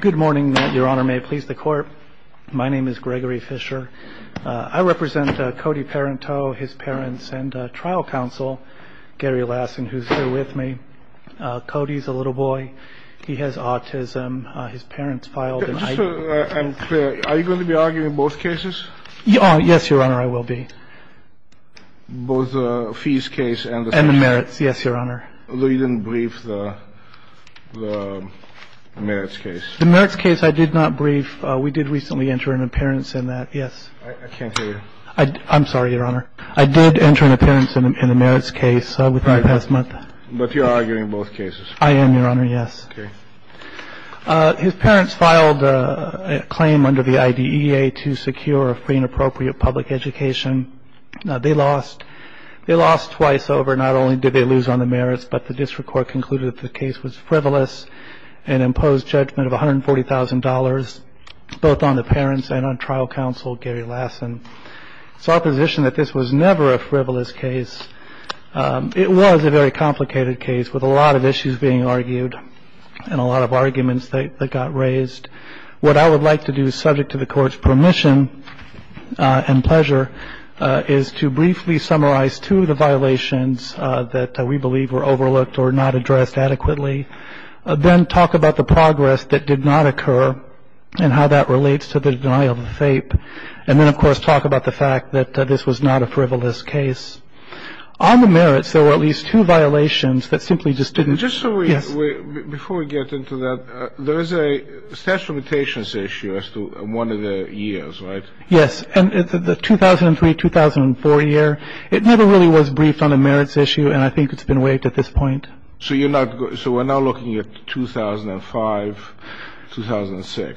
Good morning, your honor. May it please the court. My name is Gregory Fisher. I represent Cody Parenteau, his parents, and trial counsel, Gary Lassen, who's here with me. Cody's a little boy. He has autism. His parents filed an item. Are you going to be arguing both cases? Yes, your honor, I will be. Both the fees case and the merits? And the merits, yes, your honor. You didn't brief the merits case? The merits case I did not brief. We did recently enter an appearance in that, yes. I can't hear you. I'm sorry, your honor. I did enter an appearance in the merits case within the past month. But you're arguing both cases? I am, your honor, yes. Okay. His parents filed a claim under the IDEA to secure a free and appropriate public education. They lost. They lost twice over. Not only did they lose on the merits, but the district court concluded the case was frivolous and imposed judgment of one hundred forty thousand dollars, both on the parents and on trial counsel, Gary Lassen's opposition that this was never a frivolous case. It was a very complicated case with a lot of issues being argued and a lot of arguments that got raised. What I would like to do, subject to the court's permission and pleasure, is to briefly summarize two of the violations that we believe were overlooked or not addressed adequately. Then talk about the progress that did not occur and how that relates to the denial of the fape. And then, of course, talk about the fact that this was not a frivolous case. On the merits, there were at least two violations that simply just didn't... Just so we... Yes. Before we get into that, there is a statute of limitations issue as to one of the years, right? Yes. And the 2003-2004 year, it never really was briefed on the merits issue, and I think it's been waived at this point. So you're not... So we're now looking at 2005-2006.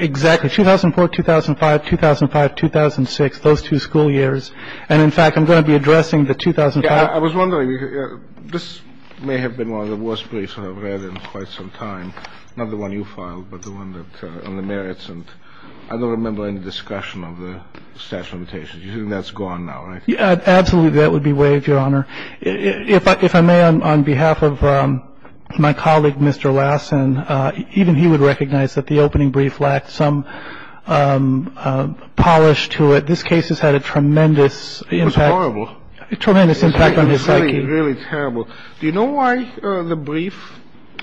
Exactly. 2004, 2005, 2005, 2006, those two school years. And, in fact, I'm going to be addressing the 2005... I was wondering, this may have been one of the worst briefs I've read in quite some time, not the one you filed, but the one on the merits. And I don't remember any discussion of the statute of limitations. You think that's gone now, right? Absolutely, that would be waived, Your Honor. If I may, on behalf of my colleague, Mr. Lassen, even he would recognize that the opening brief lacked some polish to it. This case has had a tremendous impact... It was horrible. Tremendous impact on his psyche. It was really, really terrible. Do you know why the brief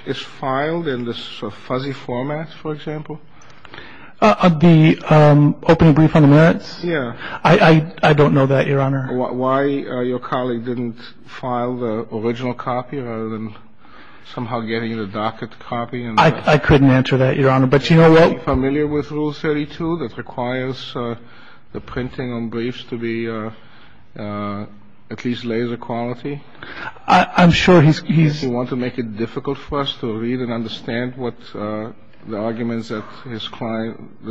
is filed in this fuzzy format, for example? The opening brief on the merits? Yeah. I don't know that, Your Honor. Why your colleague didn't file the original copy rather than somehow getting the docket copy? I couldn't answer that, Your Honor, but you know what... Are you familiar with Rule 32 that requires the printing on briefs to be at least laser quality? I'm sure he's... Do you want to make it difficult for us to read and understand what the arguments that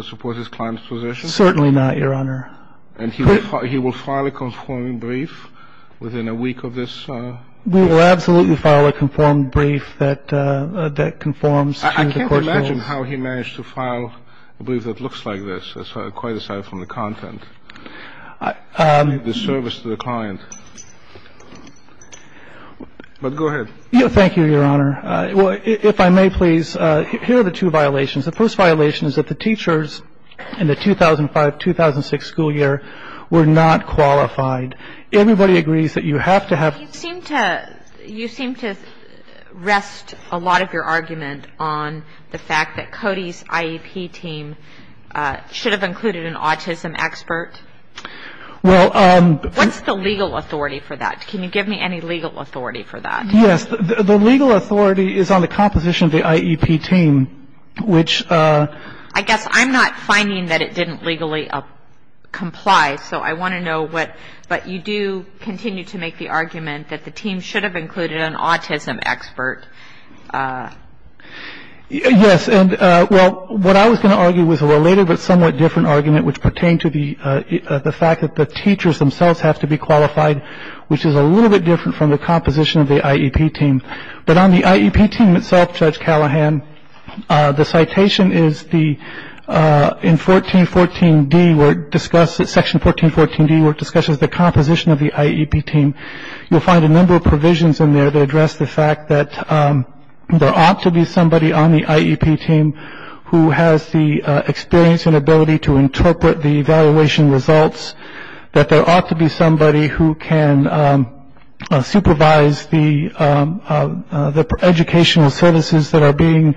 support his client's position? Certainly not, Your Honor. And he will file a conforming brief within a week of this? We will absolutely file a conformed brief that conforms to the court rules. I can't imagine how he managed to file a brief that looks like this, quite aside from the content, the service to the client. But go ahead. Thank you, Your Honor. If I may, please, here are the two violations. The first violation is that the teachers in the 2005-2006 school year were not qualified. Everybody agrees that you have to have... You seem to rest a lot of your argument on the fact that Cody's IEP team should have included an autism expert. Well... What's the legal authority for that? Can you give me any legal authority for that? Yes. The legal authority is on the composition of the IEP team, which... I guess I'm not finding that it didn't legally comply, so I want to know what... But you do continue to make the argument that the team should have included an autism expert. Yes, and, well, what I was going to argue was a related but somewhat different argument which pertained to the fact that the teachers themselves have to be qualified, which is a little bit different from the composition of the IEP team. But on the IEP team itself, Judge Callahan, the citation is the... In Section 1414D where it discusses the composition of the IEP team, you'll find a number of provisions in there that address the fact that there ought to be somebody on the IEP team who has the experience and ability to interpret the evaluation results, that there ought to be somebody who can supervise the educational services that are being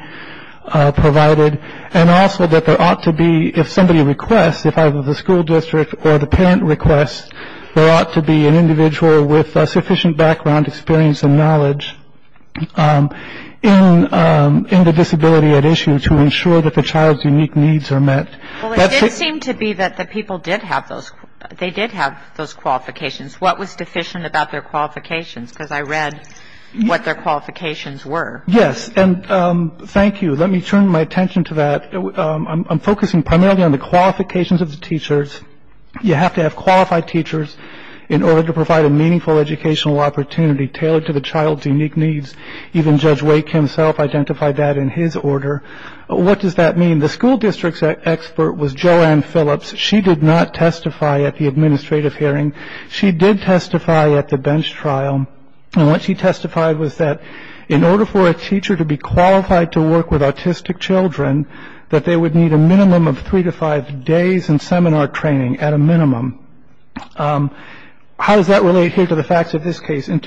provided, and also that there ought to be, if somebody requests, if either the school district or the parent requests, there ought to be an individual with sufficient background, experience, and knowledge in the disability at issue to ensure that the child's unique needs are met. Well, it did seem to be that the people did have those qualifications. What was deficient about their qualifications? Because I read what their qualifications were. Yes, and thank you. Let me turn my attention to that. I'm focusing primarily on the qualifications of the teachers. You have to have qualified teachers in order to provide a meaningful educational opportunity tailored to the child's unique needs. Even Judge Wake himself identified that in his order. What does that mean? The school district's expert was Joanne Phillips. She did not testify at the administrative hearing. She did testify at the bench trial. And what she testified was that in order for a teacher to be qualified to work with autistic children, that they would need a minimum of three to five days in seminar training, at a minimum. How does that relate here to the facts of this case? And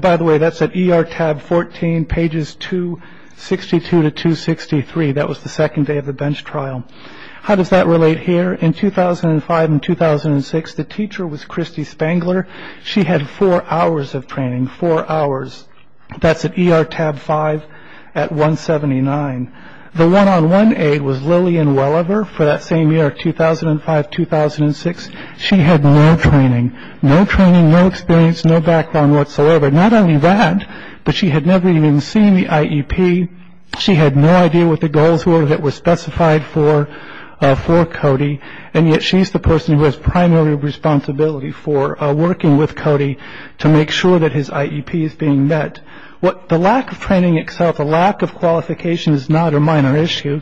by the way, that's at ER tab 14, pages 262 to 263. That was the second day of the bench trial. How does that relate here? In 2005 and 2006, the teacher was Christy Spangler. She had four hours of training, four hours. That's at ER tab 5 at 179. The one-on-one aid was Lillian Welliver for that same year, 2005, 2006. She had no training. No training, no experience, no background whatsoever. Not only that, but she had never even seen the IEP. She had no idea what the goals were that were specified for Cody. And yet she's the person who has primary responsibility for working with Cody to make sure that his IEP is being met. The lack of training itself, the lack of qualification is not a minor issue.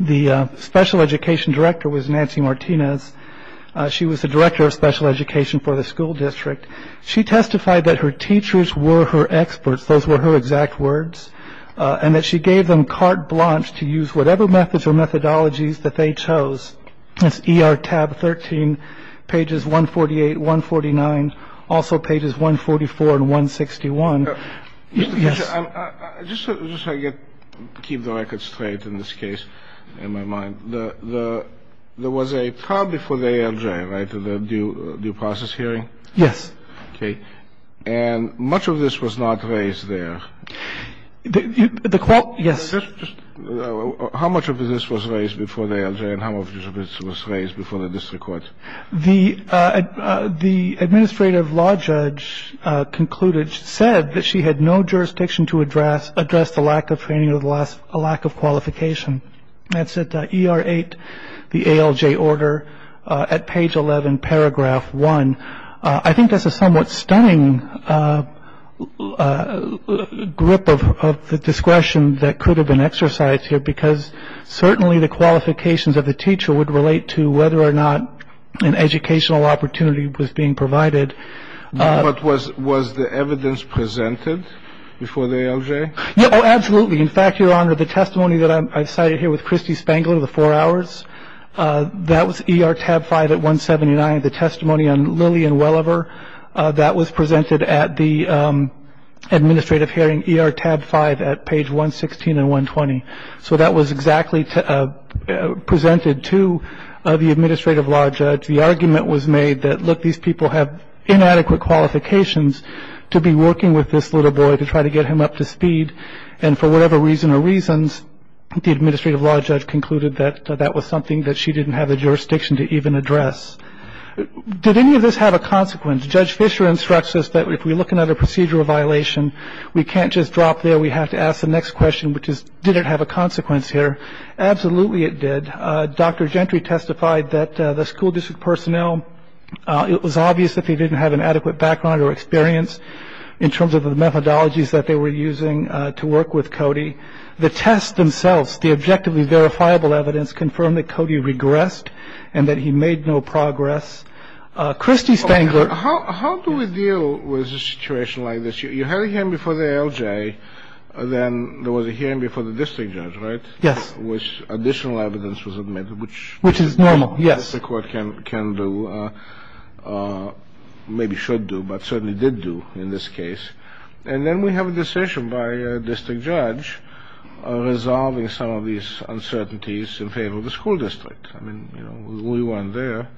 The special education director was Nancy Martinez. She was the director of special education for the school district. She testified that her teachers were her experts. Those were her exact words. And that she gave them carte blanche to use whatever methods or methodologies that they chose. That's ER tab 13, pages 148, 149, also pages 144 and 161. I'm just trying to keep the record straight in this case, in my mind. There was a trial before the ALJ, right, the due process hearing? Yes. Okay. And much of this was not raised there. The quote, yes. How much of this was raised before the ALJ and how much of this was raised before the district court? The administrative law judge concluded, said that she had no jurisdiction to address the lack of training or the lack of qualification. That's at ER 8, the ALJ order, at page 11, paragraph 1. I think that's a somewhat stunning grip of the discretion that could have been exercised here because certainly the qualifications of the teacher would relate to whether or not an educational opportunity was being provided. But was the evidence presented before the ALJ? Oh, absolutely. In fact, Your Honor, the testimony that I cited here with Christy Spangler, the four hours, that was ER tab 5 at 179. The testimony on Lillian Welliver, that was presented at the administrative hearing, ER tab 5 at page 116 and 120. So that was exactly presented to the administrative law judge. The argument was made that, look, these people have inadequate qualifications to be working with this little boy to try to get him up to speed. And for whatever reason or reasons, the administrative law judge concluded that that was something that she didn't have the jurisdiction to even address. Did any of this have a consequence? Judge Fischer instructs us that if we look at another procedural violation, we can't just drop there. We have to ask the next question, which is, did it have a consequence here? Absolutely it did. Dr. Gentry testified that the school district personnel, it was obvious that they didn't have an adequate background or experience in terms of the methodologies that they were using to work with Cody. The test themselves, the objectively verifiable evidence confirmed that Cody regressed and that he made no progress. Christy Spangler. How do we deal with a situation like this? You had him before the L.J. Then there was a hearing before the district judge, right? Yes. Which additional evidence was admitted, which. Which is normal. Yes. The court can do, maybe should do, but certainly did do in this case. And then we have a decision by a district judge resolving some of these uncertainties in favor of the school district. I mean, you know, we weren't there.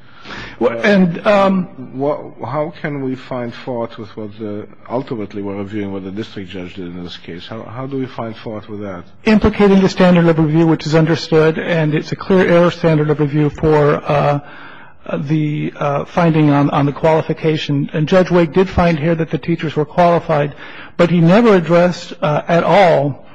And how can we find fault with what ultimately we're reviewing what the district judge did in this case? How do we find fault with that? Implicating the standard of review, which is understood, and it's a clear error standard of review for the finding on the qualification. And Judge Wake did find here that the teachers were qualified, but he never addressed at all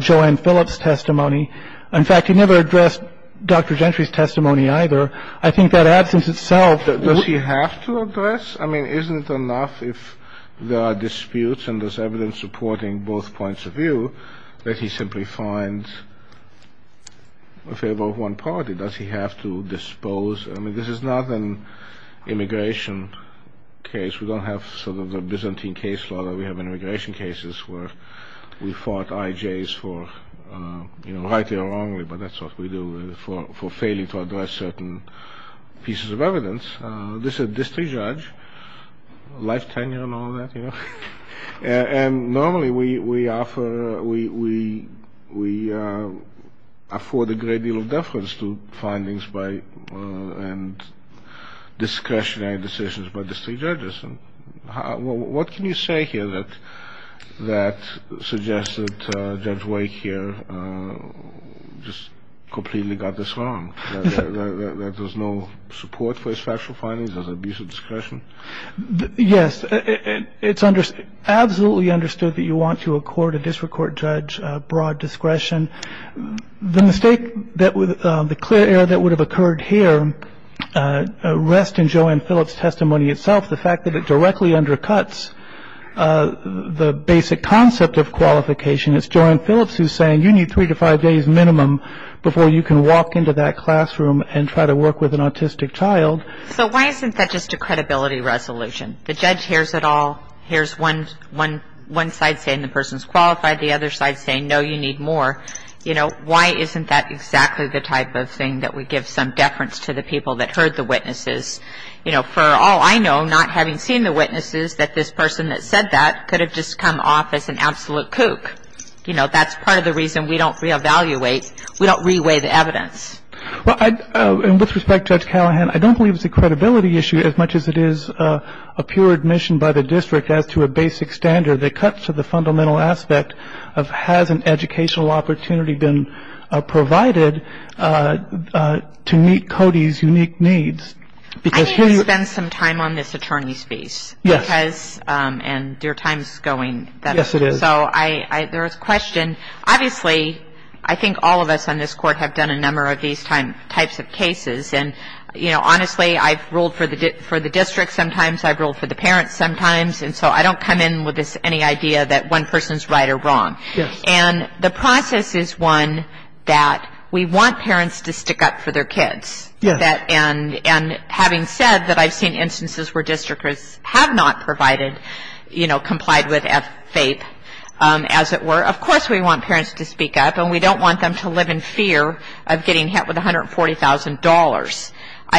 Joanne Phillips' testimony. In fact, he never addressed Dr. Gentry's testimony either. I think that absence itself. Does he have to address? I mean, isn't it enough if there are disputes and there's evidence supporting both points of view that he simply finds in favor of one party? Does he have to dispose? I mean, this is not an immigration case. We don't have sort of the Byzantine case law that we have in immigration cases where we fought I.J.'s for, you know, rightly or wrongly. But that's what we do for failing to address certain pieces of evidence. This is a district judge, life tenure and all that, you know. And normally we afford a great deal of deference to findings and discretionary decisions by district judges. What can you say here that suggests that Judge Wake here just completely got this wrong, that there's no support for his factual findings as abuse of discretion? Yes, it's absolutely understood that you want to accord a district court judge broad discretion. The clear error that would have occurred here rests in Joanne Phillips' testimony itself, the fact that it directly undercuts the basic concept of qualification. It's Joanne Phillips who's saying you need three to five days minimum before you can walk into that classroom and try to work with an autistic child. So why isn't that just a credibility resolution? The judge hears it all, hears one side saying the person's qualified, the other side saying, no, you need more. You know, why isn't that exactly the type of thing that would give some deference to the people that heard the witnesses? You know, for all I know, not having seen the witnesses, that this person that said that could have just come off as an absolute kook. You know, that's part of the reason we don't reevaluate, we don't reweigh the evidence. Well, and with respect to Judge Callahan, I don't believe it's a credibility issue as much as it is a pure admission by the district as to a basic standard that cuts to the fundamental aspect of has an educational opportunity been provided to meet Cody's unique needs. I need to spend some time on this attorney's piece. Yes. And your time's going. Yes, it is. So there was a question. Obviously, I think all of us on this Court have done a number of these types of cases. And, you know, honestly, I've ruled for the district sometimes, I've ruled for the parents sometimes, and so I don't come in with any idea that one person's right or wrong. Yes. And the process is one that we want parents to stick up for their kids. Yes. And having said that, I've seen instances where districters have not provided, you know, complied with FAPE, as it were. Of course we want parents to speak up, and we don't want them to live in fear of getting hit with $140,000.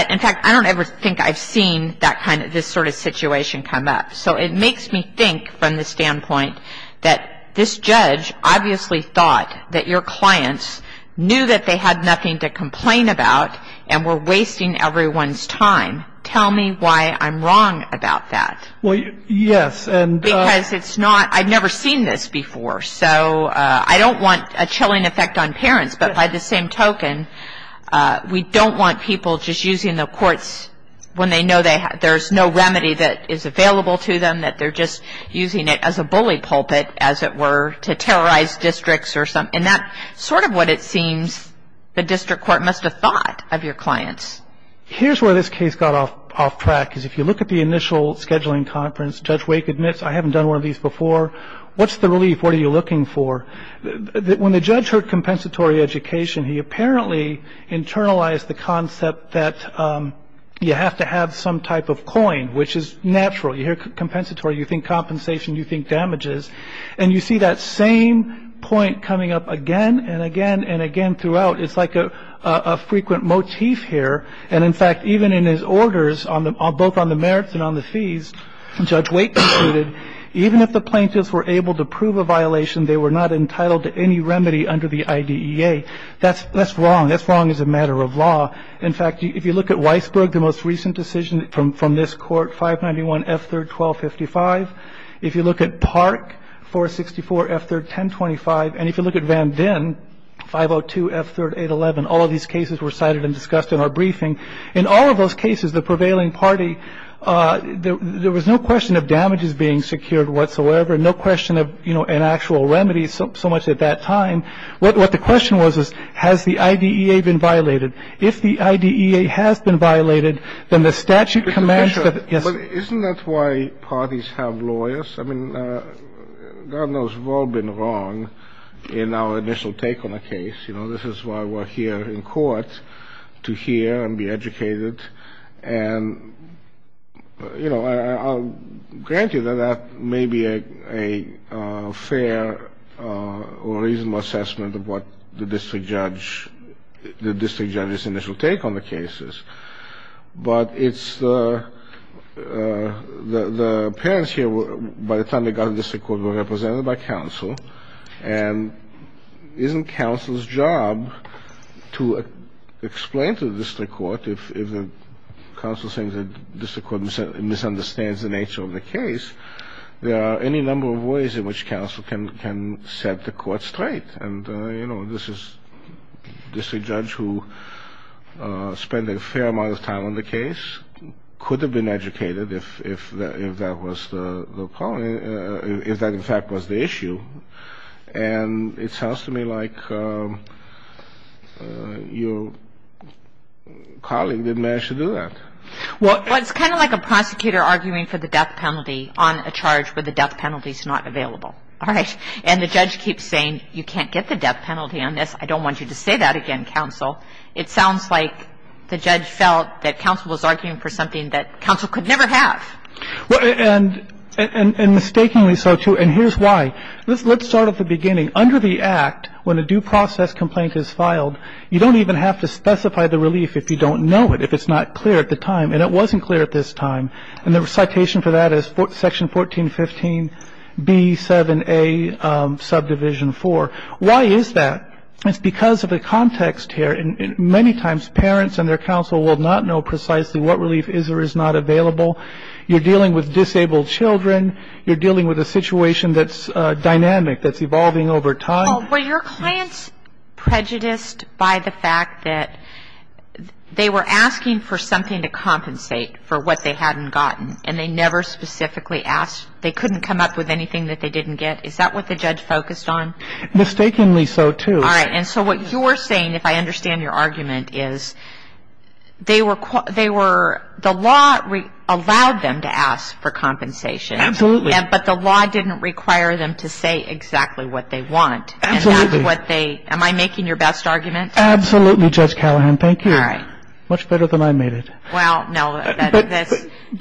In fact, I don't ever think I've seen that kind of this sort of situation come up. So it makes me think from the standpoint that this judge obviously thought that your clients knew that they had nothing to do with wasting everyone's time. Tell me why I'm wrong about that. Well, yes. Because it's not – I've never seen this before. So I don't want a chilling effect on parents, but by the same token, we don't want people just using the courts when they know there's no remedy that is available to them, that they're just using it as a bully pulpit, as it were, to terrorize districts or something. And that's sort of what it seems the district court must have thought of your clients. Here's where this case got off track, is if you look at the initial scheduling conference, Judge Wake admits, I haven't done one of these before. What's the relief? What are you looking for? When the judge heard compensatory education, he apparently internalized the concept that you have to have some type of coin, which is natural. You hear compensatory, you think compensation, you think damages. And you see that same point coming up again and again and again throughout. It's like a frequent motif here. And, in fact, even in his orders, both on the merits and on the fees, Judge Wake concluded, even if the plaintiffs were able to prove a violation, they were not entitled to any remedy under the IDEA. That's wrong. That's wrong as a matter of law. In fact, if you look at Weisberg, the most recent decision from this court, 591 F3-1255, if you look at Park, 464 F3-1025, and if you look at Van Dyn, 502 F3-811, all of these cases were cited and discussed in our briefing. In all of those cases, the prevailing party, there was no question of damages being secured whatsoever, no question of, you know, an actual remedy so much at that time. What the question was, is has the IDEA been violated? If the IDEA has been violated, then the statute commands that the ---- But isn't that why parties have lawyers? I mean, God knows we've all been wrong in our initial take on a case. You know, this is why we're here in court, to hear and be educated. And, you know, I'll grant you that that may be a fair or reasonable assessment of what the district judge, the district judge's initial take on the case is. But it's the parents here, by the time they got to the district court, were represented by counsel. And isn't counsel's job to explain to the district court, if the counsel says the district court misunderstands the nature of the case, there are any number of ways in which counsel can set the court straight. And, you know, this is a district judge who spent a fair amount of time on the case, could have been educated if that was the problem, if that, in fact, was the issue. And it sounds to me like your colleague didn't manage to do that. Well, it's kind of like a prosecutor arguing for the death penalty on a charge where the death penalty is not available. All right. And the judge keeps saying, you can't get the death penalty on this. I don't want you to say that again, counsel. It sounds like the judge felt that counsel was arguing for something that counsel could never have. And mistakenly so, too. And here's why. Let's start at the beginning. Under the Act, when a due process complaint is filed, you don't even have to specify the relief if you don't know it, if it's not clear at the time. And it wasn't clear at this time. And the citation for that is Section 1415B7A Subdivision 4. Why is that? It's because of the context here. Many times parents and their counsel will not know precisely what relief is or is not available. You're dealing with disabled children. You're dealing with a situation that's dynamic, that's evolving over time. Were your clients prejudiced by the fact that they were asking for something to compensate for what they hadn't gotten and they never specifically asked? They couldn't come up with anything that they didn't get? Is that what the judge focused on? Mistakenly so, too. All right. And so what you're saying, if I understand your argument, is they were the law allowed them to ask for compensation. Absolutely. But the law didn't require them to say exactly what they want. Absolutely. Am I making your best argument? Absolutely, Judge Callahan. Thank you. All right. Much better than I made it. Well, no.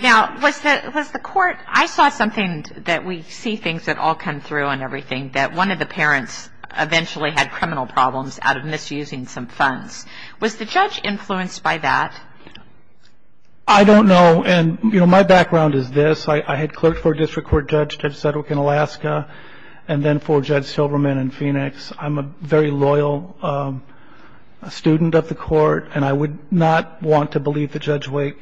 Now, was the court – I saw something that we see things that all come through and everything, that one of the parents eventually had criminal problems out of misusing some funds. Was the judge influenced by that? I don't know. And, you know, my background is this. I had clerked for a district court judge, Judge Sedgwick in Alaska, and then for Judge Silberman in Phoenix. I'm a very loyal student of the court, and I would not want to believe that Judge Wake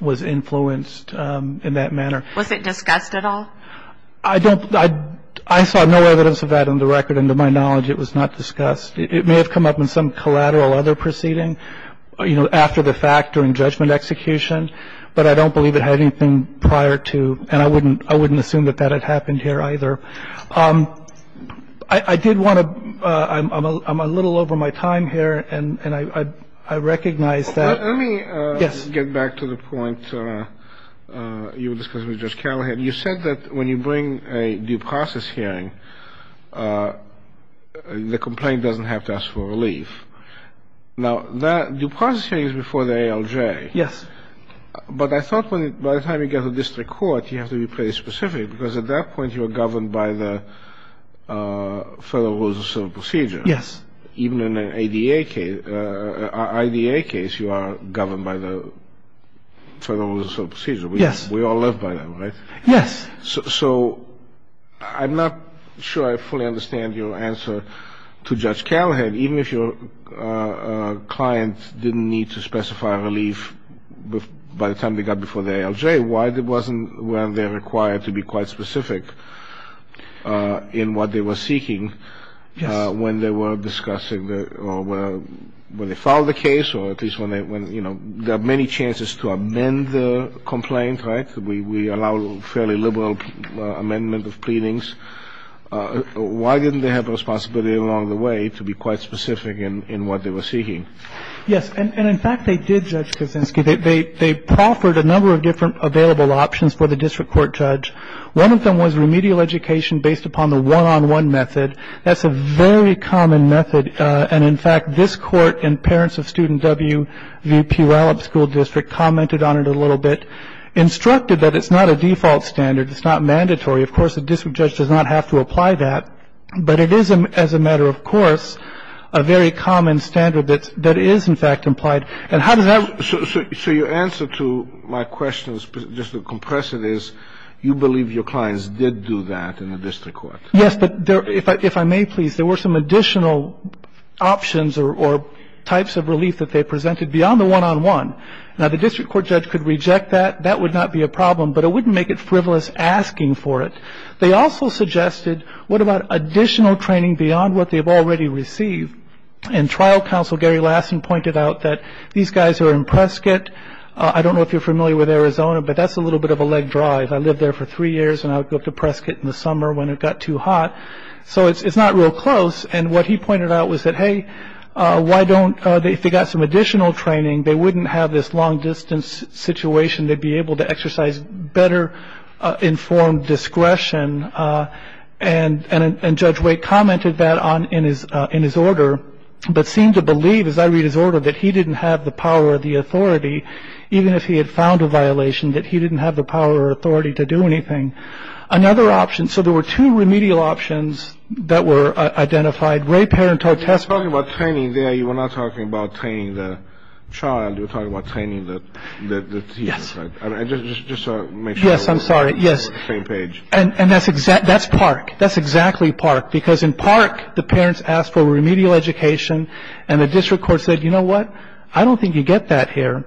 was influenced in that manner. Was it discussed at all? I don't – I saw no evidence of that in the record, and to my knowledge it was not discussed. It may have come up in some collateral other proceeding, you know, after the fact during judgment execution, but I don't believe it had anything prior to – and I wouldn't assume that that had happened here either. I did want to – I'm a little over my time here, and I recognize that – Let me get back to the point you were discussing with Judge Callahan. You said that when you bring a due process hearing, the complaint doesn't have to ask for relief. Now, that due process hearing is before the ALJ. Yes. But I thought by the time you get to district court, you have to be pretty specific, because at that point you are governed by the Federal Rules of Civil Procedure. Yes. Even in an ADA case – an IDA case, you are governed by the Federal Rules of Civil Procedure. Yes. We all live by them, right? Yes. So I'm not sure I fully understand your answer to Judge Callahan. Even if your client didn't need to specify relief by the time they got before the ALJ, why wasn't – weren't they required to be quite specific in what they were seeking when they were discussing – or when they filed the case, or at least when they – you know, there are many chances to amend the complaint, right? We allow fairly liberal amendment of pleadings. Why didn't they have the responsibility along the way to be quite specific in what they were seeking? Yes. And, in fact, they did, Judge Kuczynski. They proffered a number of different available options for the district court judge. One of them was remedial education based upon the one-on-one method. That's a very common method. And, in fact, this court and parents of student W. P. Wallop School District commented on it a little bit, instructed that it's not a default standard. It's not mandatory. Of course, the district judge does not have to apply that. But it is, as a matter of course, a very common standard that is, in fact, implied. And how does that – So your answer to my question, just to compress it, is you believe your clients did do that in the district court? Yes. But if I may, please, there were some additional options or types of relief that they presented beyond the one-on-one. Now, the district court judge could reject that. That would not be a problem. But it wouldn't make it frivolous asking for it. They also suggested, what about additional training beyond what they've already received? And trial counsel Gary Lassen pointed out that these guys who are in Prescott – I don't know if you're familiar with Arizona, but that's a little bit of a leg drive. I lived there for three years, and I would go up to Prescott in the summer when it got too hot. So it's not real close. And what he pointed out was that, hey, why don't – if they got some additional training, they wouldn't have this long-distance situation. They'd be able to exercise better-informed discretion. And Judge Wake commented that in his order, but seemed to believe, as I read his order, that he didn't have the power or the authority, even if he had found a violation, that he didn't have the power or authority to do anything. Another option – so there were two remedial options that were identified. Ray Parenteau – When I spoke about training there, you were not talking about training the child. You were talking about training the teacher. Yes. Just to make sure – Yes, I'm sorry. Yes. Same page. And that's Park. That's exactly Park. Because in Park, the parents asked for remedial education, and the district court said, you know what, I don't think you get that here,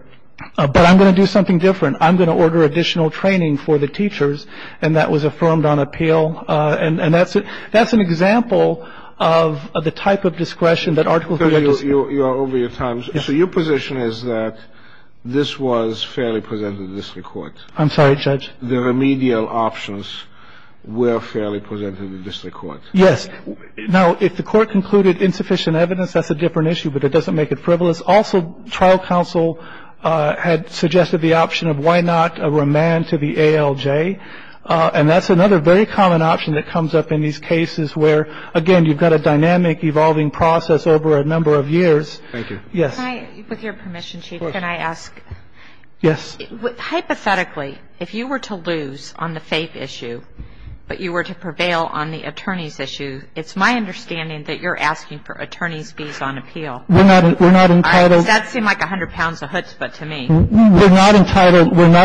but I'm going to do something different. I'm going to order additional training for the teachers. And that was affirmed on appeal. And that's an example of the type of discretion that Article 3a does. So you are over your time. Yes. So your position is that this was fairly presented to the district court. I'm sorry, Judge. The remedial options were fairly presented to the district court. Yes. Now, if the court concluded insufficient evidence, that's a different issue, but it doesn't make it frivolous. Also, trial counsel had suggested the option of why not a remand to the ALJ. And that's another very common option that comes up in these cases where, again, you've got a dynamic evolving process over a number of years. Thank you. Yes. With your permission, Chief, can I ask? Yes. Hypothetically, if you were to lose on the faith issue, but you were to prevail on the attorney's issue, it's my understanding that you're asking for attorney's fees on appeal. We're not entitled. That seemed like 100 pounds of chutzpah to me. We're not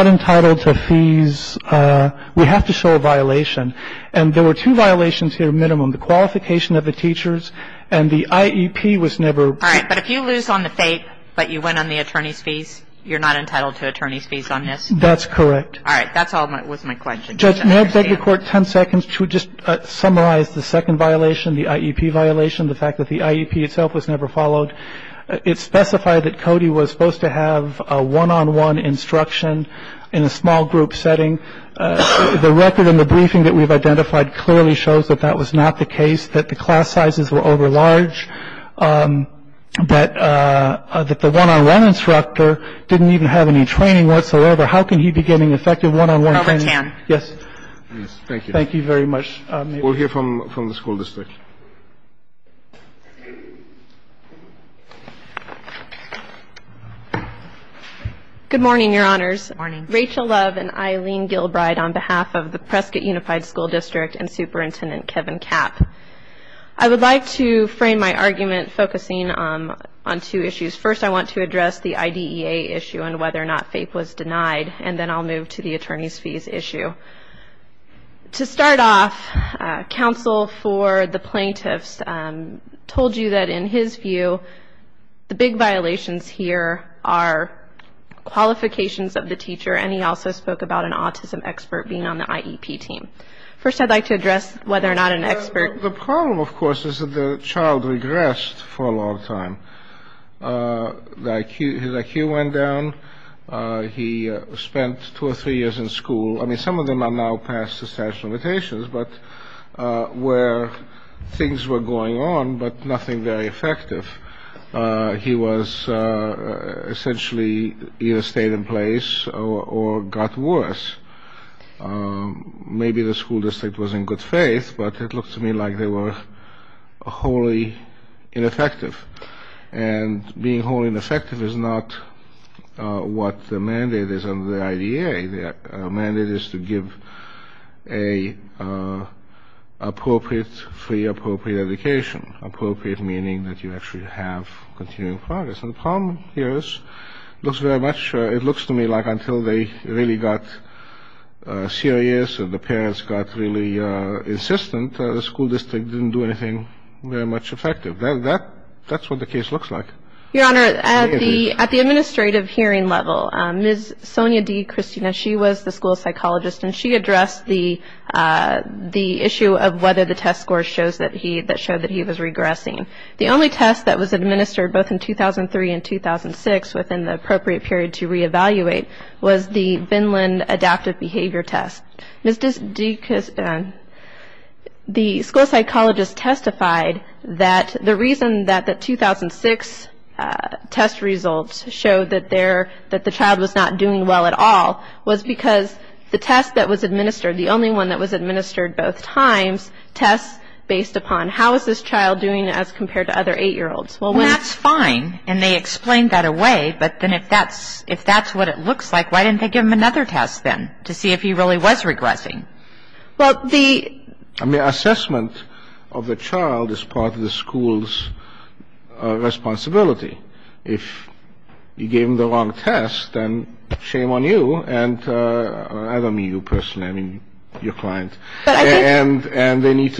entitled to fees. We have to show a violation. And there were two violations here, minimum, the qualification of the teachers and the IEP was never. All right. But if you lose on the faith, but you win on the attorney's fees, you're not entitled to attorney's fees on this? That's correct. All right. That's all was my question. Judge, may I beg the Court 10 seconds to just summarize the second violation, the IEP violation, the fact that the IEP itself was never followed? It specified that Cody was supposed to have a one-on-one instruction in a small group setting. The record in the briefing that we've identified clearly shows that that was not the case, that the class sizes were over large, but that the one-on-one instructor didn't even have any training whatsoever. How can he be getting effective one-on-one training? Robert Tan. Yes. Thank you. Thank you very much. We'll hear from the school district. Good morning. Good morning, Your Honors. Good morning. Rachel Love and Eileen Gilbride on behalf of the Prescott Unified School District and Superintendent Kevin Kapp. I would like to frame my argument focusing on two issues. First, I want to address the IDEA issue and whether or not FAPE was denied, and then I'll move to the attorney's fees issue. To start off, counsel for the plaintiffs told you that, in his view, the big violations here are qualifications of the teacher, and he also spoke about an autism expert being on the IEP team. First, I'd like to address whether or not an expert. The problem, of course, is that the child regressed for a long time. His IQ went down. He spent two or three years in school. I mean, some of them are now past the statute of limitations, but where things were going on but nothing very effective, he was essentially either stayed in place or got worse. Maybe the school district was in good faith, but it looked to me like they were wholly ineffective, and being wholly ineffective is not what the mandate is under the IDEA. The mandate is to give a free, appropriate education, appropriate meaning that you actually have continuing progress. And the problem here is it looks to me like until they really got serious and the parents got really insistent, the school district didn't do anything very much effective. That's what the case looks like. Your Honor, at the administrative hearing level, Ms. Sonia D. Christina, she was the school psychologist, and she addressed the issue of whether the test scores showed that he was regressing. The only test that was administered both in 2003 and 2006 within the appropriate period to reevaluate was the Vinland adaptive behavior test. Ms. D. Christina, the school psychologist testified that the reason that the 2006 test results showed that the child was not doing well at all was because the test that was administered, the only one that was administered both times, tests based upon how is this child doing as compared to other 8-year-olds. And that's fine, and they explained that away, but then if that's what it looks like, why didn't they give him another test then to see if he really was regressing? Well, the — I mean, assessment of the child is part of the school's responsibility. If you gave him the wrong test, then shame on you, and I don't mean you personally, I mean your client. And they need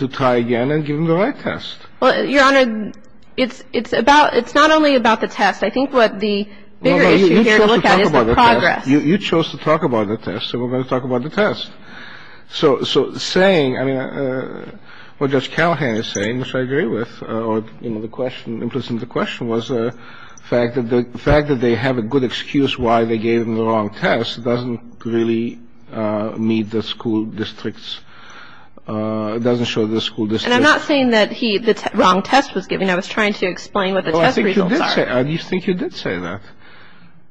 to try again and give him the right test. Well, Your Honor, it's about — it's not only about the test. I think what the bigger issue here to look at is the progress. You chose to talk about the test, so we're going to talk about the test. So saying — I mean, what Judge Callahan is saying, which I agree with, is that the fact that they gave him the wrong test doesn't really meet the school district's — doesn't show the school district's — And I'm not saying that he — the wrong test was given. I was trying to explain what the test results are. Well, I think you did say — I think you did say that.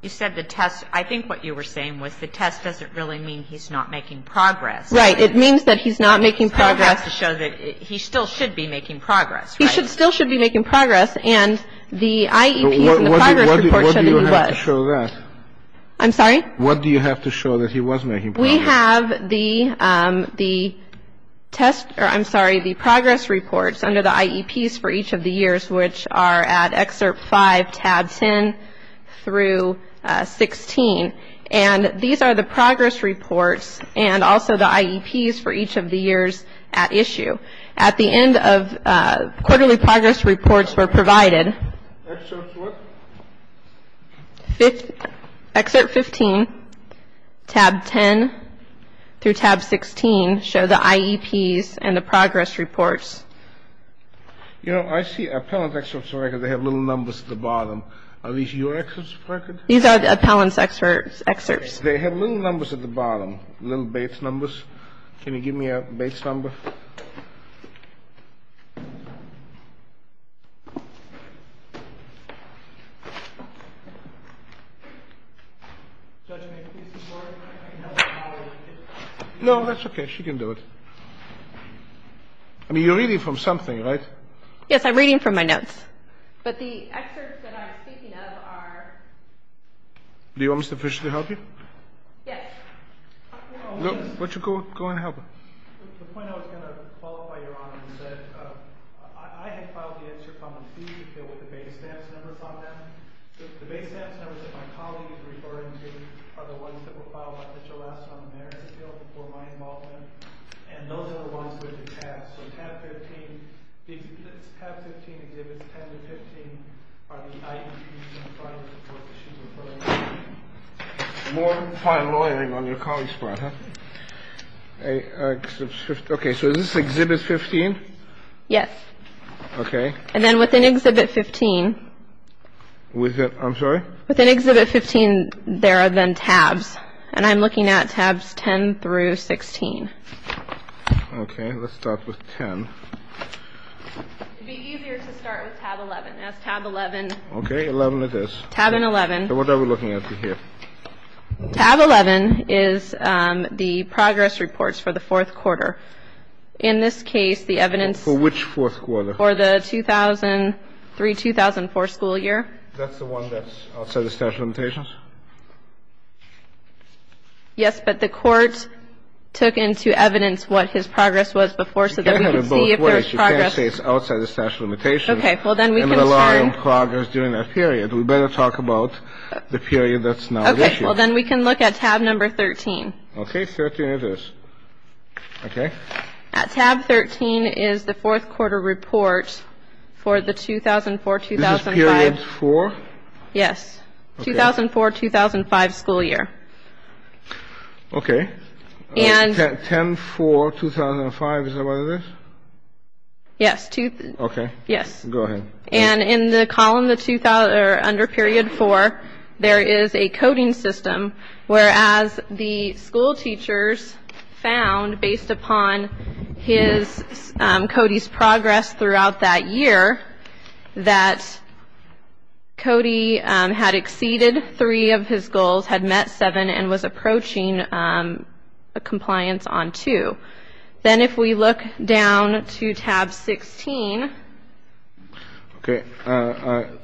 You said the test — I think what you were saying was the test doesn't really mean he's not making progress. Right. It means that he's not making progress. So it has to show that he still should be making progress, right? He should still be making progress. He still should be making progress, and the IEPs and the progress reports show that he was. What do you have to show that? I'm sorry? What do you have to show that he was making progress? We have the test — or, I'm sorry, the progress reports under the IEPs for each of the years, which are at Excerpt 5, Tab 10 through 16. And these are the progress reports and also the IEPs for each of the years at issue. At the end of — quarterly progress reports were provided. Excerpt what? Excerpt 15, Tab 10 through Tab 16 show the IEPs and the progress reports. You know, I see appellant excerpts are right here. They have little numbers at the bottom. Are these your excerpts? These are the appellant's excerpts. They have little numbers at the bottom, little base numbers. Can you give me a base number? No, that's okay. She can do it. I mean, you're reading from something, right? Yes, I'm reading from my notes. But the excerpts that I'm speaking of are — Do you want Mr. Fisher to help you? Yes. Why don't you go ahead and help her? The point I was going to qualify, Your Honor, is that I had filed the excerpt on the seizure appeal with the base stamps numbers on them. The base stamps numbers that my colleague is referring to are the ones that were filed by Mitchell Lassner on the marriage appeal before my involvement. And those are the ones with the tabs. So Tab 15 exhibits 10 to 15 are the IEPs and the progress reports that she's referring to. More file lawyering on your colleague's part, huh? Okay. So is this Exhibit 15? Yes. Okay. And then within Exhibit 15 — Within — I'm sorry? Within Exhibit 15, there are then tabs. And I'm looking at Tabs 10 through 16. Okay. Let's start with 10. It would be easier to start with Tab 11. That's Tab 11. Okay. 11 it is. Tab 11. So what are we looking at here? Tab 11 is the progress reports for the fourth quarter. In this case, the evidence — For which fourth quarter? For the 2003-2004 school year. That's the one that's outside the statute of limitations? Yes, but the Court took into evidence what his progress was before so that we could see if there was progress — You can't have it both ways. You can't say it's outside the statute of limitations. Okay. Well, then we can start — We can't allow progress during that period. We better talk about the period that's now issued. Okay. Well, then we can look at Tab 13. Okay. 13 it is. Okay. Tab 13 is the fourth quarter report for the 2004-2005 — This is period four? Yes. 2004-2005 school year. Okay. And — 10-4-2005, is that what it is? Yes. Okay. Yes. Go ahead. And in the column under period four, there is a coding system, whereas the school teachers found, based upon Cody's progress throughout that year, that Cody had exceeded three of his goals, had met seven, and was approaching compliance on two. Then if we look down to Tab 16 — Okay.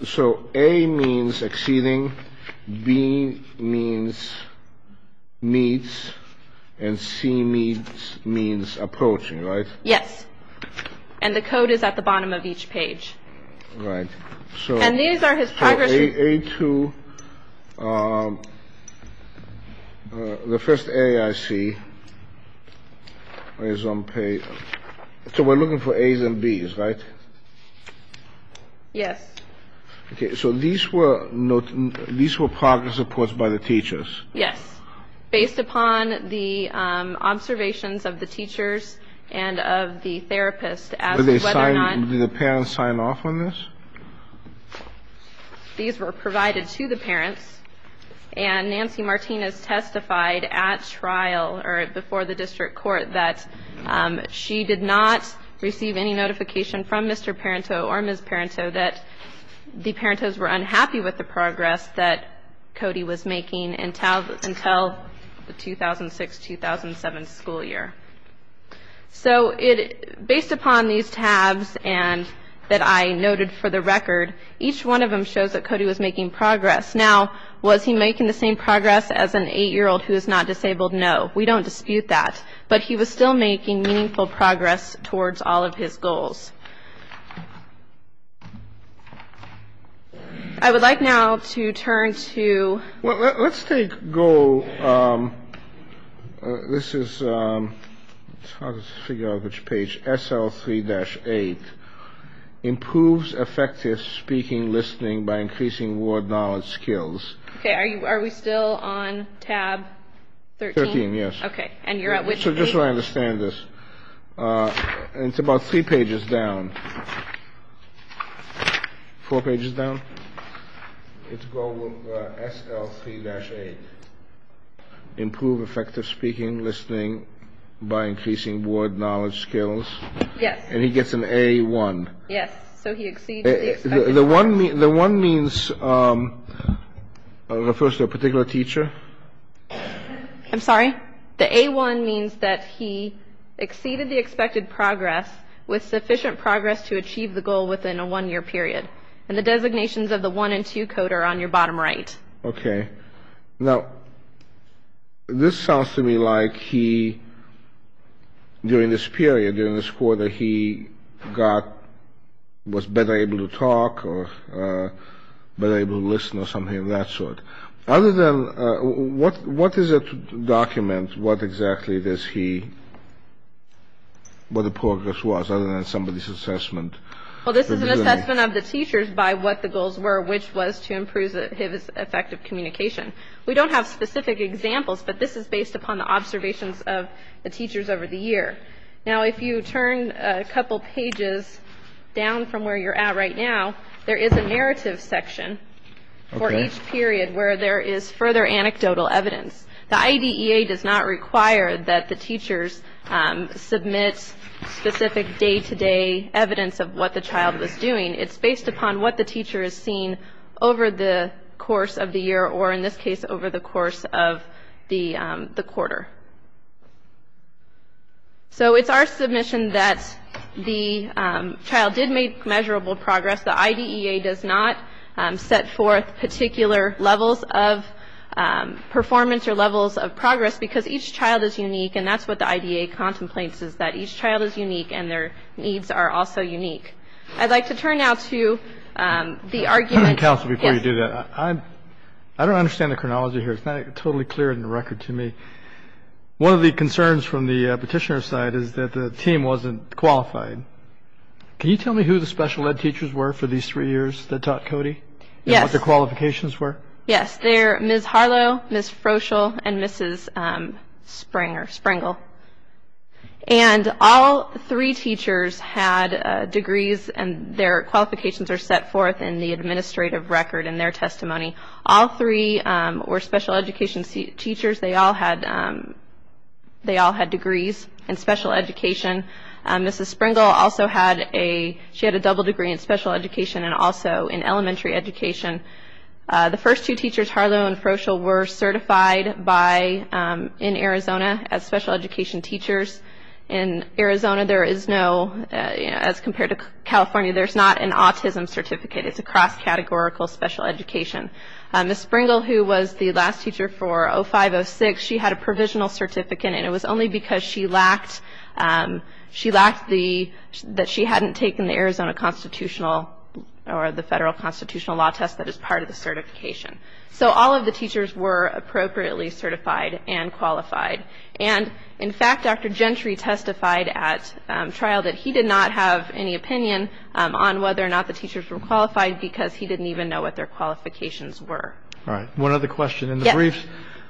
So A means exceeding, B means meets, and C means approaching, right? Yes. And the code is at the bottom of each page. Right. So — And these are his progress — A2. The first A I see is on page — So we're looking for A's and B's, right? Yes. Okay. So these were progress reports by the teachers? Yes. Based upon the observations of the teachers and of the therapist as to whether or not — Did the parents sign off on this? These were provided to the parents. And Nancy Martinez testified at trial, or before the district court, that she did not receive any notification from Mr. Parenteau or Ms. Parenteau that the Parenteaus were unhappy with the progress that Cody was making until the 2006-2007 school year. So based upon these tabs that I noted for the record, each one of them shows that Cody was making progress. Now, was he making the same progress as an 8-year-old who is not disabled? No. We don't dispute that. But he was still making meaningful progress towards all of his goals. I would like now to turn to — Well, let's take — This is — Let's figure out which page. SL3-8. Improves effective speaking, listening by increasing word knowledge skills. Okay. Are we still on tab 13? 13, yes. Okay. And you're at which page? So just so I understand this, it's about three pages down. Four pages down? It's goal SL3-8. Improve effective speaking, listening by increasing word knowledge skills. Yes. And he gets an A1. Yes. So he exceeded the expected — The 1 means — refers to a particular teacher. I'm sorry? The A1 means that he exceeded the expected progress with sufficient progress to achieve the goal within a one-year period. And the designations of the 1 and 2 code are on your bottom right. Okay. Now, this sounds to me like he, during this period, during this quarter, he got — was better able to talk or better able to listen or something of that sort. Other than — what is a document? What exactly does he — what the progress was, other than somebody's assessment? Well, this is an assessment of the teachers by what the goals were, which was to improve his effective communication. We don't have specific examples, but this is based upon the observations of the teachers over the year. Now, if you turn a couple pages down from where you're at right now, there is a narrative section for each period where there is further anecdotal evidence. The IDEA does not require that the teachers submit specific day-to-day evidence of what the child was doing. It's based upon what the teacher has seen over the course of the year or, in this case, over the course of the quarter. So it's our submission that the child did make measurable progress. The IDEA does not set forth particular levels of performance or levels of progress because each child is unique, and that's what the IDEA contemplates, is that each child is unique and their needs are also unique. I'd like to turn now to the argument — Counsel, before you do that, I don't understand the chronology here. It's not totally clear in the record to me. One of the concerns from the petitioner's side is that the team wasn't qualified. Can you tell me who the special ed teachers were for these three years that taught Cody and what their qualifications were? Yes. They're Ms. Harlow, Ms. Froschel, and Mrs. Springer — Springle. And all three teachers had degrees, and their qualifications are set forth in the administrative record in their testimony. All three were special education teachers. They all had degrees in special education. Mrs. Springle also had a — she had a double degree in special education and also in elementary education. The first two teachers, Harlow and Froschel, were certified in Arizona as special education teachers. In Arizona, there is no — as compared to California, there's not an autism certificate. It's a cross-categorical special education. Ms. Springle, who was the last teacher for 05-06, she had a provisional certificate, and it was only because she lacked the — that she hadn't taken the Arizona constitutional or the federal constitutional law test that is part of the certification. So all of the teachers were appropriately certified and qualified. And, in fact, Dr. Gentry testified at trial that he did not have any opinion on whether or not the teachers were qualified because he didn't even know what their qualifications were. All right. One other question. Yes. Ms. Reeves,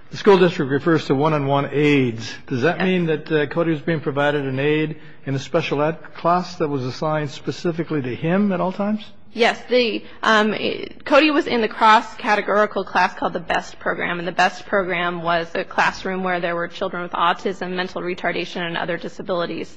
the school district refers to one-on-one aids. Does that mean that Cody was being provided an aid in a special ed class that was assigned specifically to him at all times? Yes. Cody was in the cross-categorical class called the BEST program, and the BEST program was a classroom where there were children with autism, mental retardation, and other disabilities.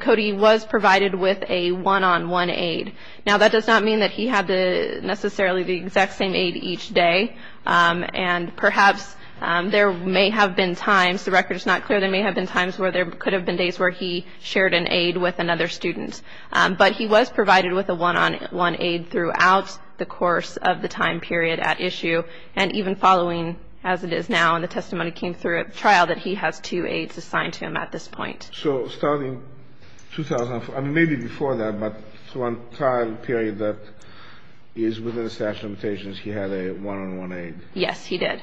Cody was provided with a one-on-one aid. Now, that does not mean that he had necessarily the exact same aid each day. And perhaps there may have been times, the record is not clear, there may have been times where there could have been days where he shared an aid with another student. But he was provided with a one-on-one aid throughout the course of the time period at issue, and even following, as it is now, and the testimony came through at trial, that he has two aids assigned to him at this point. So starting 2004, I mean, maybe before that, but throughout the trial period that is within the statute of limitations, he had a one-on-one aid? Yes, he did.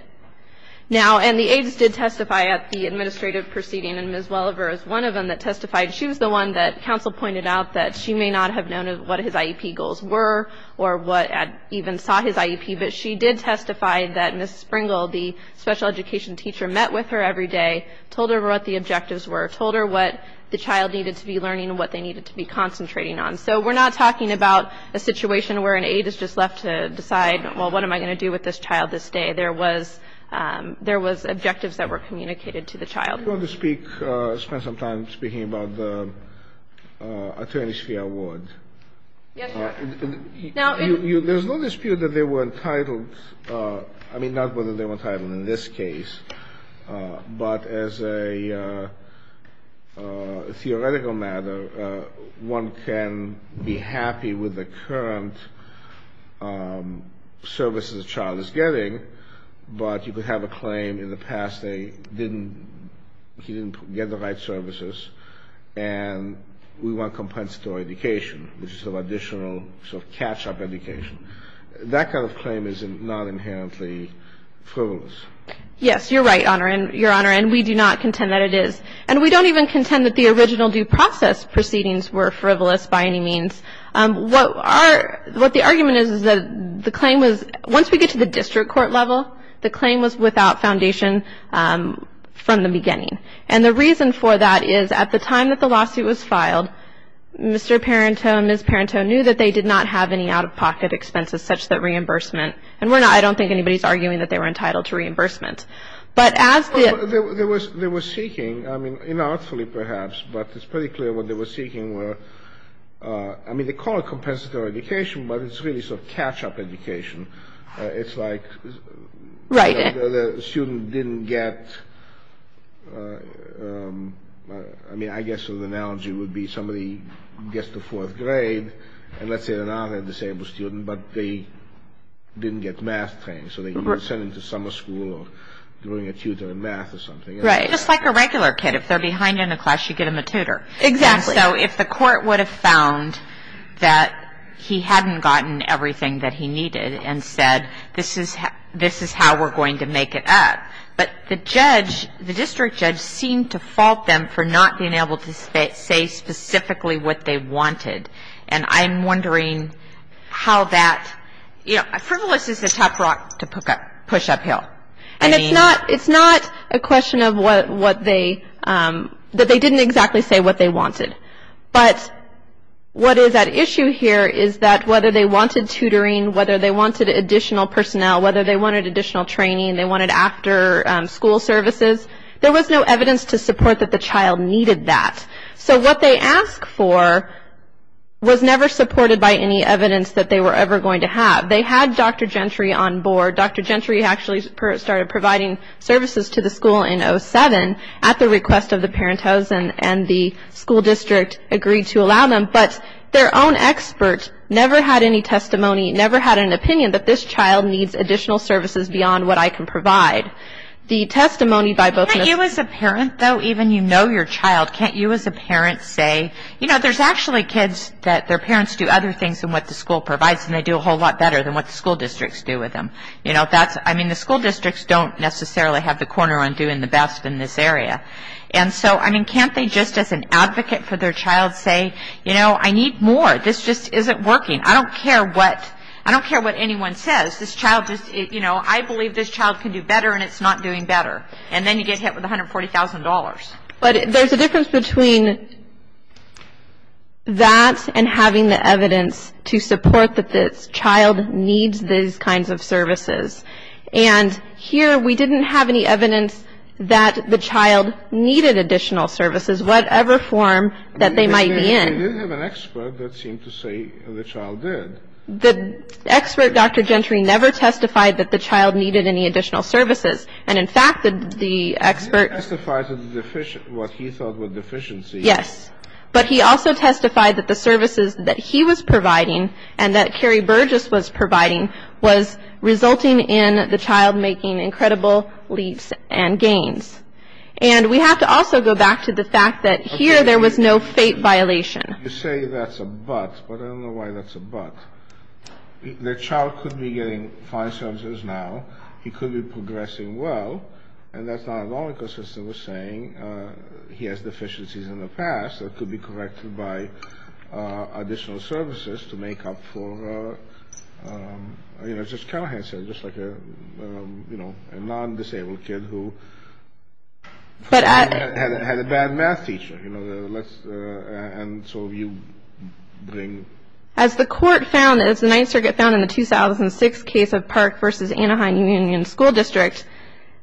Now, and the aids did testify at the administrative proceeding, and Ms. Welliver is one of them that testified. She was the one that counsel pointed out that she may not have known what his IEP goals were or what, even saw his IEP, but she did testify that Ms. Springle, the special education teacher, met with her every day, told her what the objectives were, told her what the child needed to be learning and what they needed to be concentrating on. So we're not talking about a situation where an aid is just left to decide, well, what am I going to do with this child this day? There was objectives that were communicated to the child. Do you want to speak, spend some time speaking about the attorney's fee award? Yes, Your Honor. There's no dispute that they were entitled, I mean, not whether they were entitled in this case, but as a theoretical matter, one can be happy with the current services the child is getting, but you could have a claim in the past they didn't, he didn't get the right services, and we want compensatory education, which is sort of additional sort of catch-up education. That kind of claim is not inherently frivolous. Yes, you're right, Your Honor, and we do not contend that it is, and we don't even contend that the original due process proceedings were frivolous by any means. What the argument is is that the claim was, once we get to the district court level, the claim was without foundation from the beginning, and the reason for that is at the time that the lawsuit was filed, Mr. Parenteau and Ms. Parenteau knew that they did not have any out-of-pocket expenses such that reimbursement, and we're not, I don't think anybody's arguing that they were entitled to reimbursement. But as the... They were seeking, I mean, inartfully perhaps, but it's pretty clear what they were seeking were, I mean, they call it compensatory education, but it's really sort of catch-up education. It's like... Right. The student didn't get, I mean, I guess the analogy would be somebody gets to fourth grade, and let's say they're not a disabled student, but they didn't get math training, so they could send them to summer school or bring a tutor in math or something. Right. Just like a regular kid. If they're behind in a class, you get them a tutor. Exactly. And so if the court would have found that he hadn't gotten everything that he needed and said, this is how we're going to make it up, but the judge, the district judge seemed to fault them for not being able to say specifically what they wanted, and I'm wondering how that, you know, a frivolous is a tough rock to push uphill. And it's not a question of what they, that they didn't exactly say what they wanted. But what is at issue here is that whether they wanted tutoring, whether they wanted additional personnel, whether they wanted additional training, they wanted after school services, there was no evidence to support that the child needed that. So what they asked for was never supported by any evidence that they were ever going to have. They had Dr. Gentry on board. Dr. Gentry actually started providing services to the school in 07 at the request of the parent hose and the school district agreed to allow them. But their own expert never had any testimony, never had an opinion that this child needs additional services beyond what I can provide. Can't you as a parent, though, even you know your child, can't you as a parent say, you know, there's actually kids that their parents do other things than what the school provides and they do a whole lot better than what the school districts do with them. You know, that's, I mean, the school districts don't necessarily have the corner on doing the best in this area. And so, I mean, can't they just as an advocate for their child say, you know, I need more. This just isn't working. I don't care what, I don't care what anyone says. This child just, you know, I believe this child can do better and it's not doing better. And then you get hit with $140,000. But there's a difference between that and having the evidence to support that this child needs these kinds of services. And here we didn't have any evidence that the child needed additional services, whatever form that they might be in. We did have an expert that seemed to say the child did. The expert, Dr. Gentry, never testified that the child needed any additional services. And, in fact, the expert. He testified what he thought were deficiencies. Yes. But he also testified that the services that he was providing and that Carrie Burgess was providing was resulting in the child making incredible leaps and gains. And we have to also go back to the fact that here there was no fate violation. You say that's a but, but I don't know why that's a but. The child could be getting fine services now. He could be progressing well. And that's not at all consistent with saying he has deficiencies in the past that could be corrected by additional services to make up for, you know, just like a non-disabled kid who had a bad math teacher. And so you bring. As the court found, as the Ninth Circuit found in the 2006 case of Park v. Anaheim Union School District,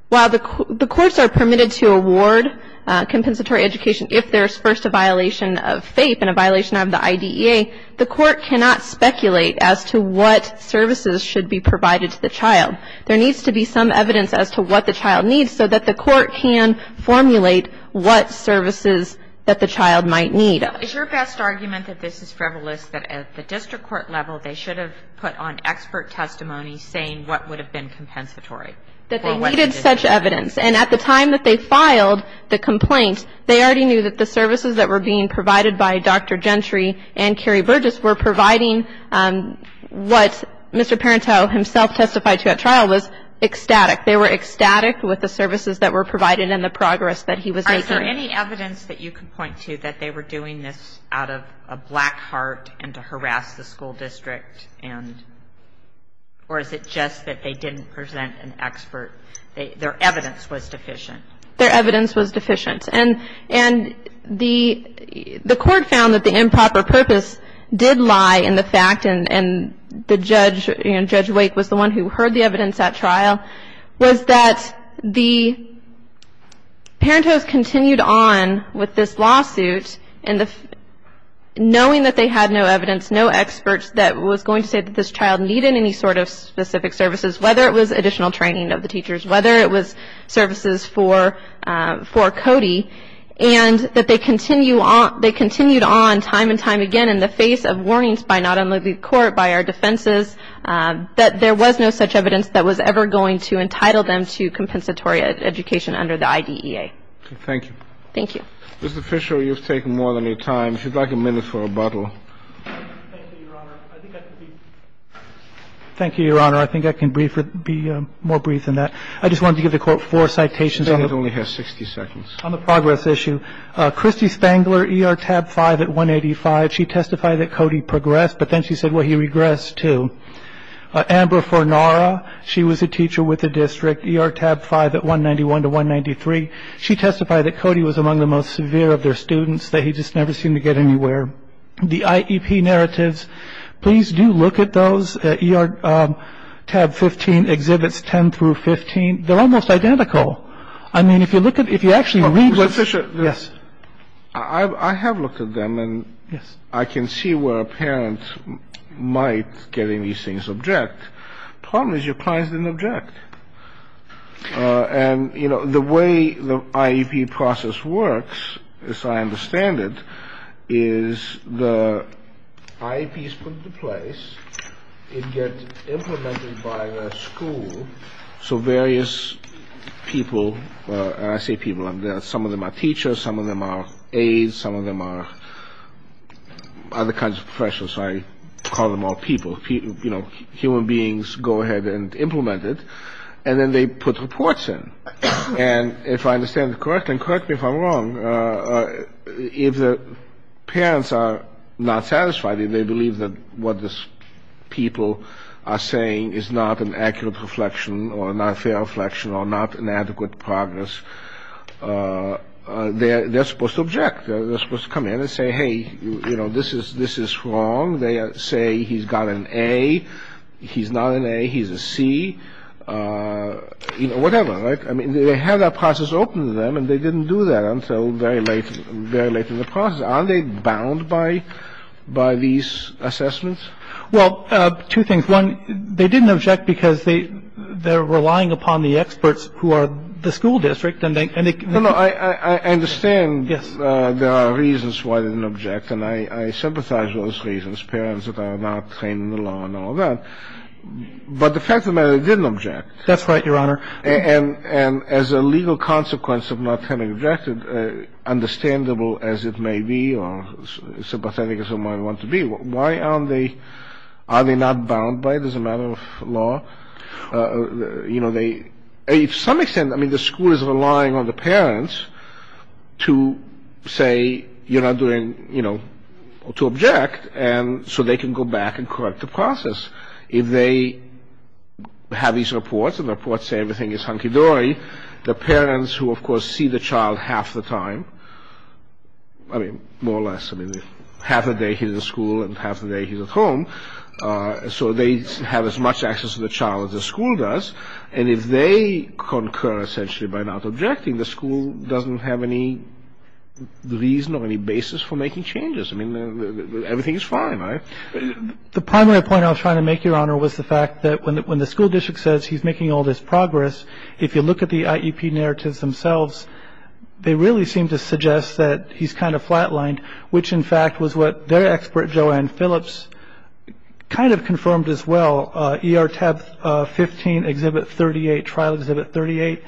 while the courts are permitted to award compensatory education if there's first a violation of fate and a violation of the IDEA, the court cannot speculate as to what services should be provided to the child. There needs to be some evidence as to what the child needs so that the court can formulate what services that the child might need. Is your best argument that this is frivolous, that at the district court level they should have put on expert testimony saying what would have been compensatory? That they needed such evidence. And at the time that they filed the complaint, they already knew that the services that were being provided by Dr. Gentry and Carrie Burgess were providing what Mr. Parenteau himself testified to at trial was ecstatic. They were ecstatic with the services that were provided and the progress that he was making. All right. So any evidence that you can point to that they were doing this out of a black heart and to harass the school district? And or is it just that they didn't present an expert? Their evidence was deficient. Their evidence was deficient. And the court found that the improper purpose did lie in the fact, and Judge Wake was the one who heard the evidence at trial, was that the Parenteau's continued on with this lawsuit knowing that they had no evidence, no experts that was going to say that this child needed any sort of specific services, whether it was additional training of the teachers, whether it was services for Cody, and that they continued on time and time again in the face of warnings by not only the court, by our defenses, that there was no such evidence that was ever going to entitle them to compensatory education under the IDEA. Thank you. Thank you. Mr. Fisher, you've taken more than your time. If you'd like a minute for rebuttal. Thank you, Your Honor. I think I can be more brief than that. I just wanted to give the court four citations. It only has 60 seconds. On the progress issue, Christy Spangler, ER tab 5 at 185, she testified that Cody progressed, but then she said, well, he regressed too. Amber Fornara, she was a teacher with the district, ER tab 5 at 191 to 193. She testified that Cody was among the most severe of their students, that he just never seemed to get anywhere. The IEP narratives, please do look at those. I was going to ask you, is the IEP narrative there? but I think the IEP narrative and the ER tab 15 exhibits 10 through 15, they're almost identical. I mean, if you look at it, if you actually read the ‑‑ Mr. Fisher? Yes? I have looked at them. Yes. And I can see where a parent might get any of these things object. Problem is, your client didn't object. And, you know, the way the IEP process works, as I understand it, is the IEP is put into place, it gets implemented by the school, so various people, and I say people, some of them are teachers, some of them are aides, some of them are other kinds of professionals, I call them all people, human beings go ahead and implement it, and then they put reports in. And if I understand it correctly, and correct me if I'm wrong, if the parents are not satisfied, if they believe that what these people are saying is not an accurate reflection or not a fair reflection or not an adequate progress, they're supposed to object. They're supposed to come in and say, hey, you know, this is wrong. They say he's got an A, he's not an A, he's a C, you know, whatever, right? I mean, they have that process open to them, and they didn't do that until very late in the process. Are they bound by these assessments? Well, two things. One, they didn't object because they're relying upon the experts who are the school district. No, no, I understand there are reasons why they didn't object, and I sympathize with those reasons, parents that are not trained in the law and all that. But the fact of the matter is they didn't object. That's right, Your Honor. And as a legal consequence of not having objected, understandable as it may be or sympathetic as it might want to be, why aren't they, are they not bound by it as a matter of law? You know, they, to some extent, I mean, the school is relying on the parents to say, you're not doing, you know, to object, and so they can go back and correct the process. If they have these reports, and the reports say everything is hunky-dory, the parents who, of course, see the child half the time, I mean, more or less, half the day he's at school and half the day he's at home, so they have as much access to the child as the school does, and if they concur, essentially, by not objecting, the school doesn't have any reason or any basis for making changes. I mean, everything is fine, right? The primary point I was trying to make, Your Honor, was the fact that when the school district says he's making all this progress, if you look at the IEP narratives themselves, they really seem to suggest that he's kind of flat-lined, which, in fact, was what their expert, Joanne Phillips, kind of confirmed as well. ER Tab 15, Exhibit 38, Trial Exhibit 38.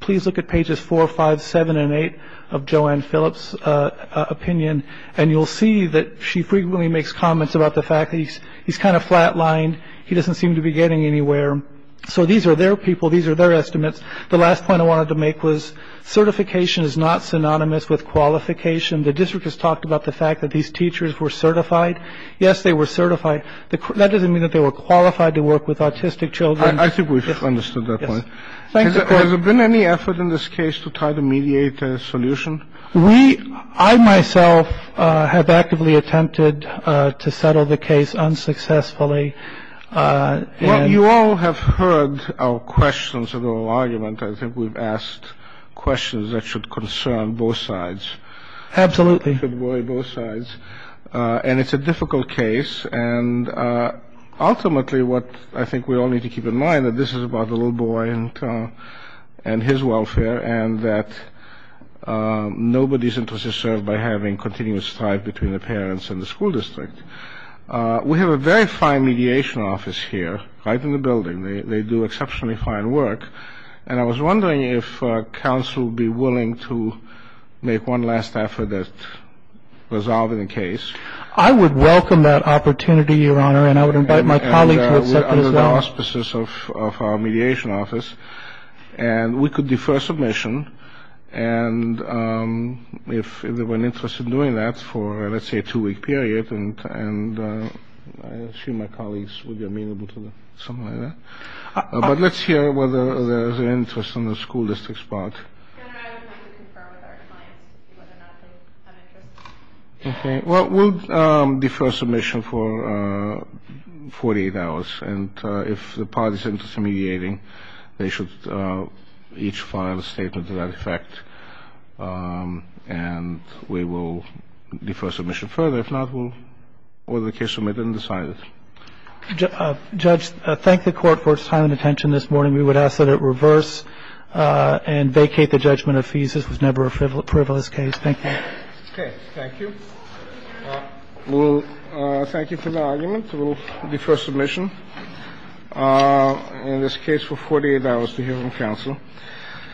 Please look at pages 4, 5, 7, and 8 of Joanne Phillips' opinion, and you'll see that she frequently makes comments about the fact that he's kind of flat-lined. He doesn't seem to be getting anywhere. So these are their people. These are their estimates. The last point I wanted to make was certification is not synonymous with qualification. The district has talked about the fact that these teachers were certified. Yes, they were certified. That doesn't mean that they were qualified to work with autistic children. I think we've understood that point. Has there been any effort in this case to try to mediate a solution? We, I myself, have actively attempted to settle the case unsuccessfully. Well, you all have heard our questions and our argument. I think we've asked questions that should concern both sides. Absolutely. And it's a difficult case. And ultimately what I think we all need to keep in mind that this is about the little boy and his welfare and that nobody's interest is served by having continuous strife between the parents and the school district. We have a very fine mediation office here, right in the building. They do exceptionally fine work. And I was wondering if counsel would be willing to make one last effort to resolve the case. I would welcome that opportunity, Your Honor, and I would invite my colleagues to accept it as well. And we're under the auspices of our mediation office. And we could defer submission. And if they were interested in doing that for, let's say, a two-week period, and I assume my colleagues would be amenable to something like that. But let's hear whether there's an interest in the school district's part. Your Honor, I would like to confer with our clients to see whether or not they have interest. Okay. Well, we'll defer submission for 48 hours. And if the parties are interested in mediating, they should each file a statement to that effect. And we will defer submission further. If not, we'll hold the case submitted and decide it. Judge, thank the Court for its time and attention this morning. We would ask that it reverse and vacate the judgment of fees. This was never a frivolous case. Thank you. Okay. Thank you. We'll thank you for the argument. We'll defer submission in this case for 48 hours to hear from counsel.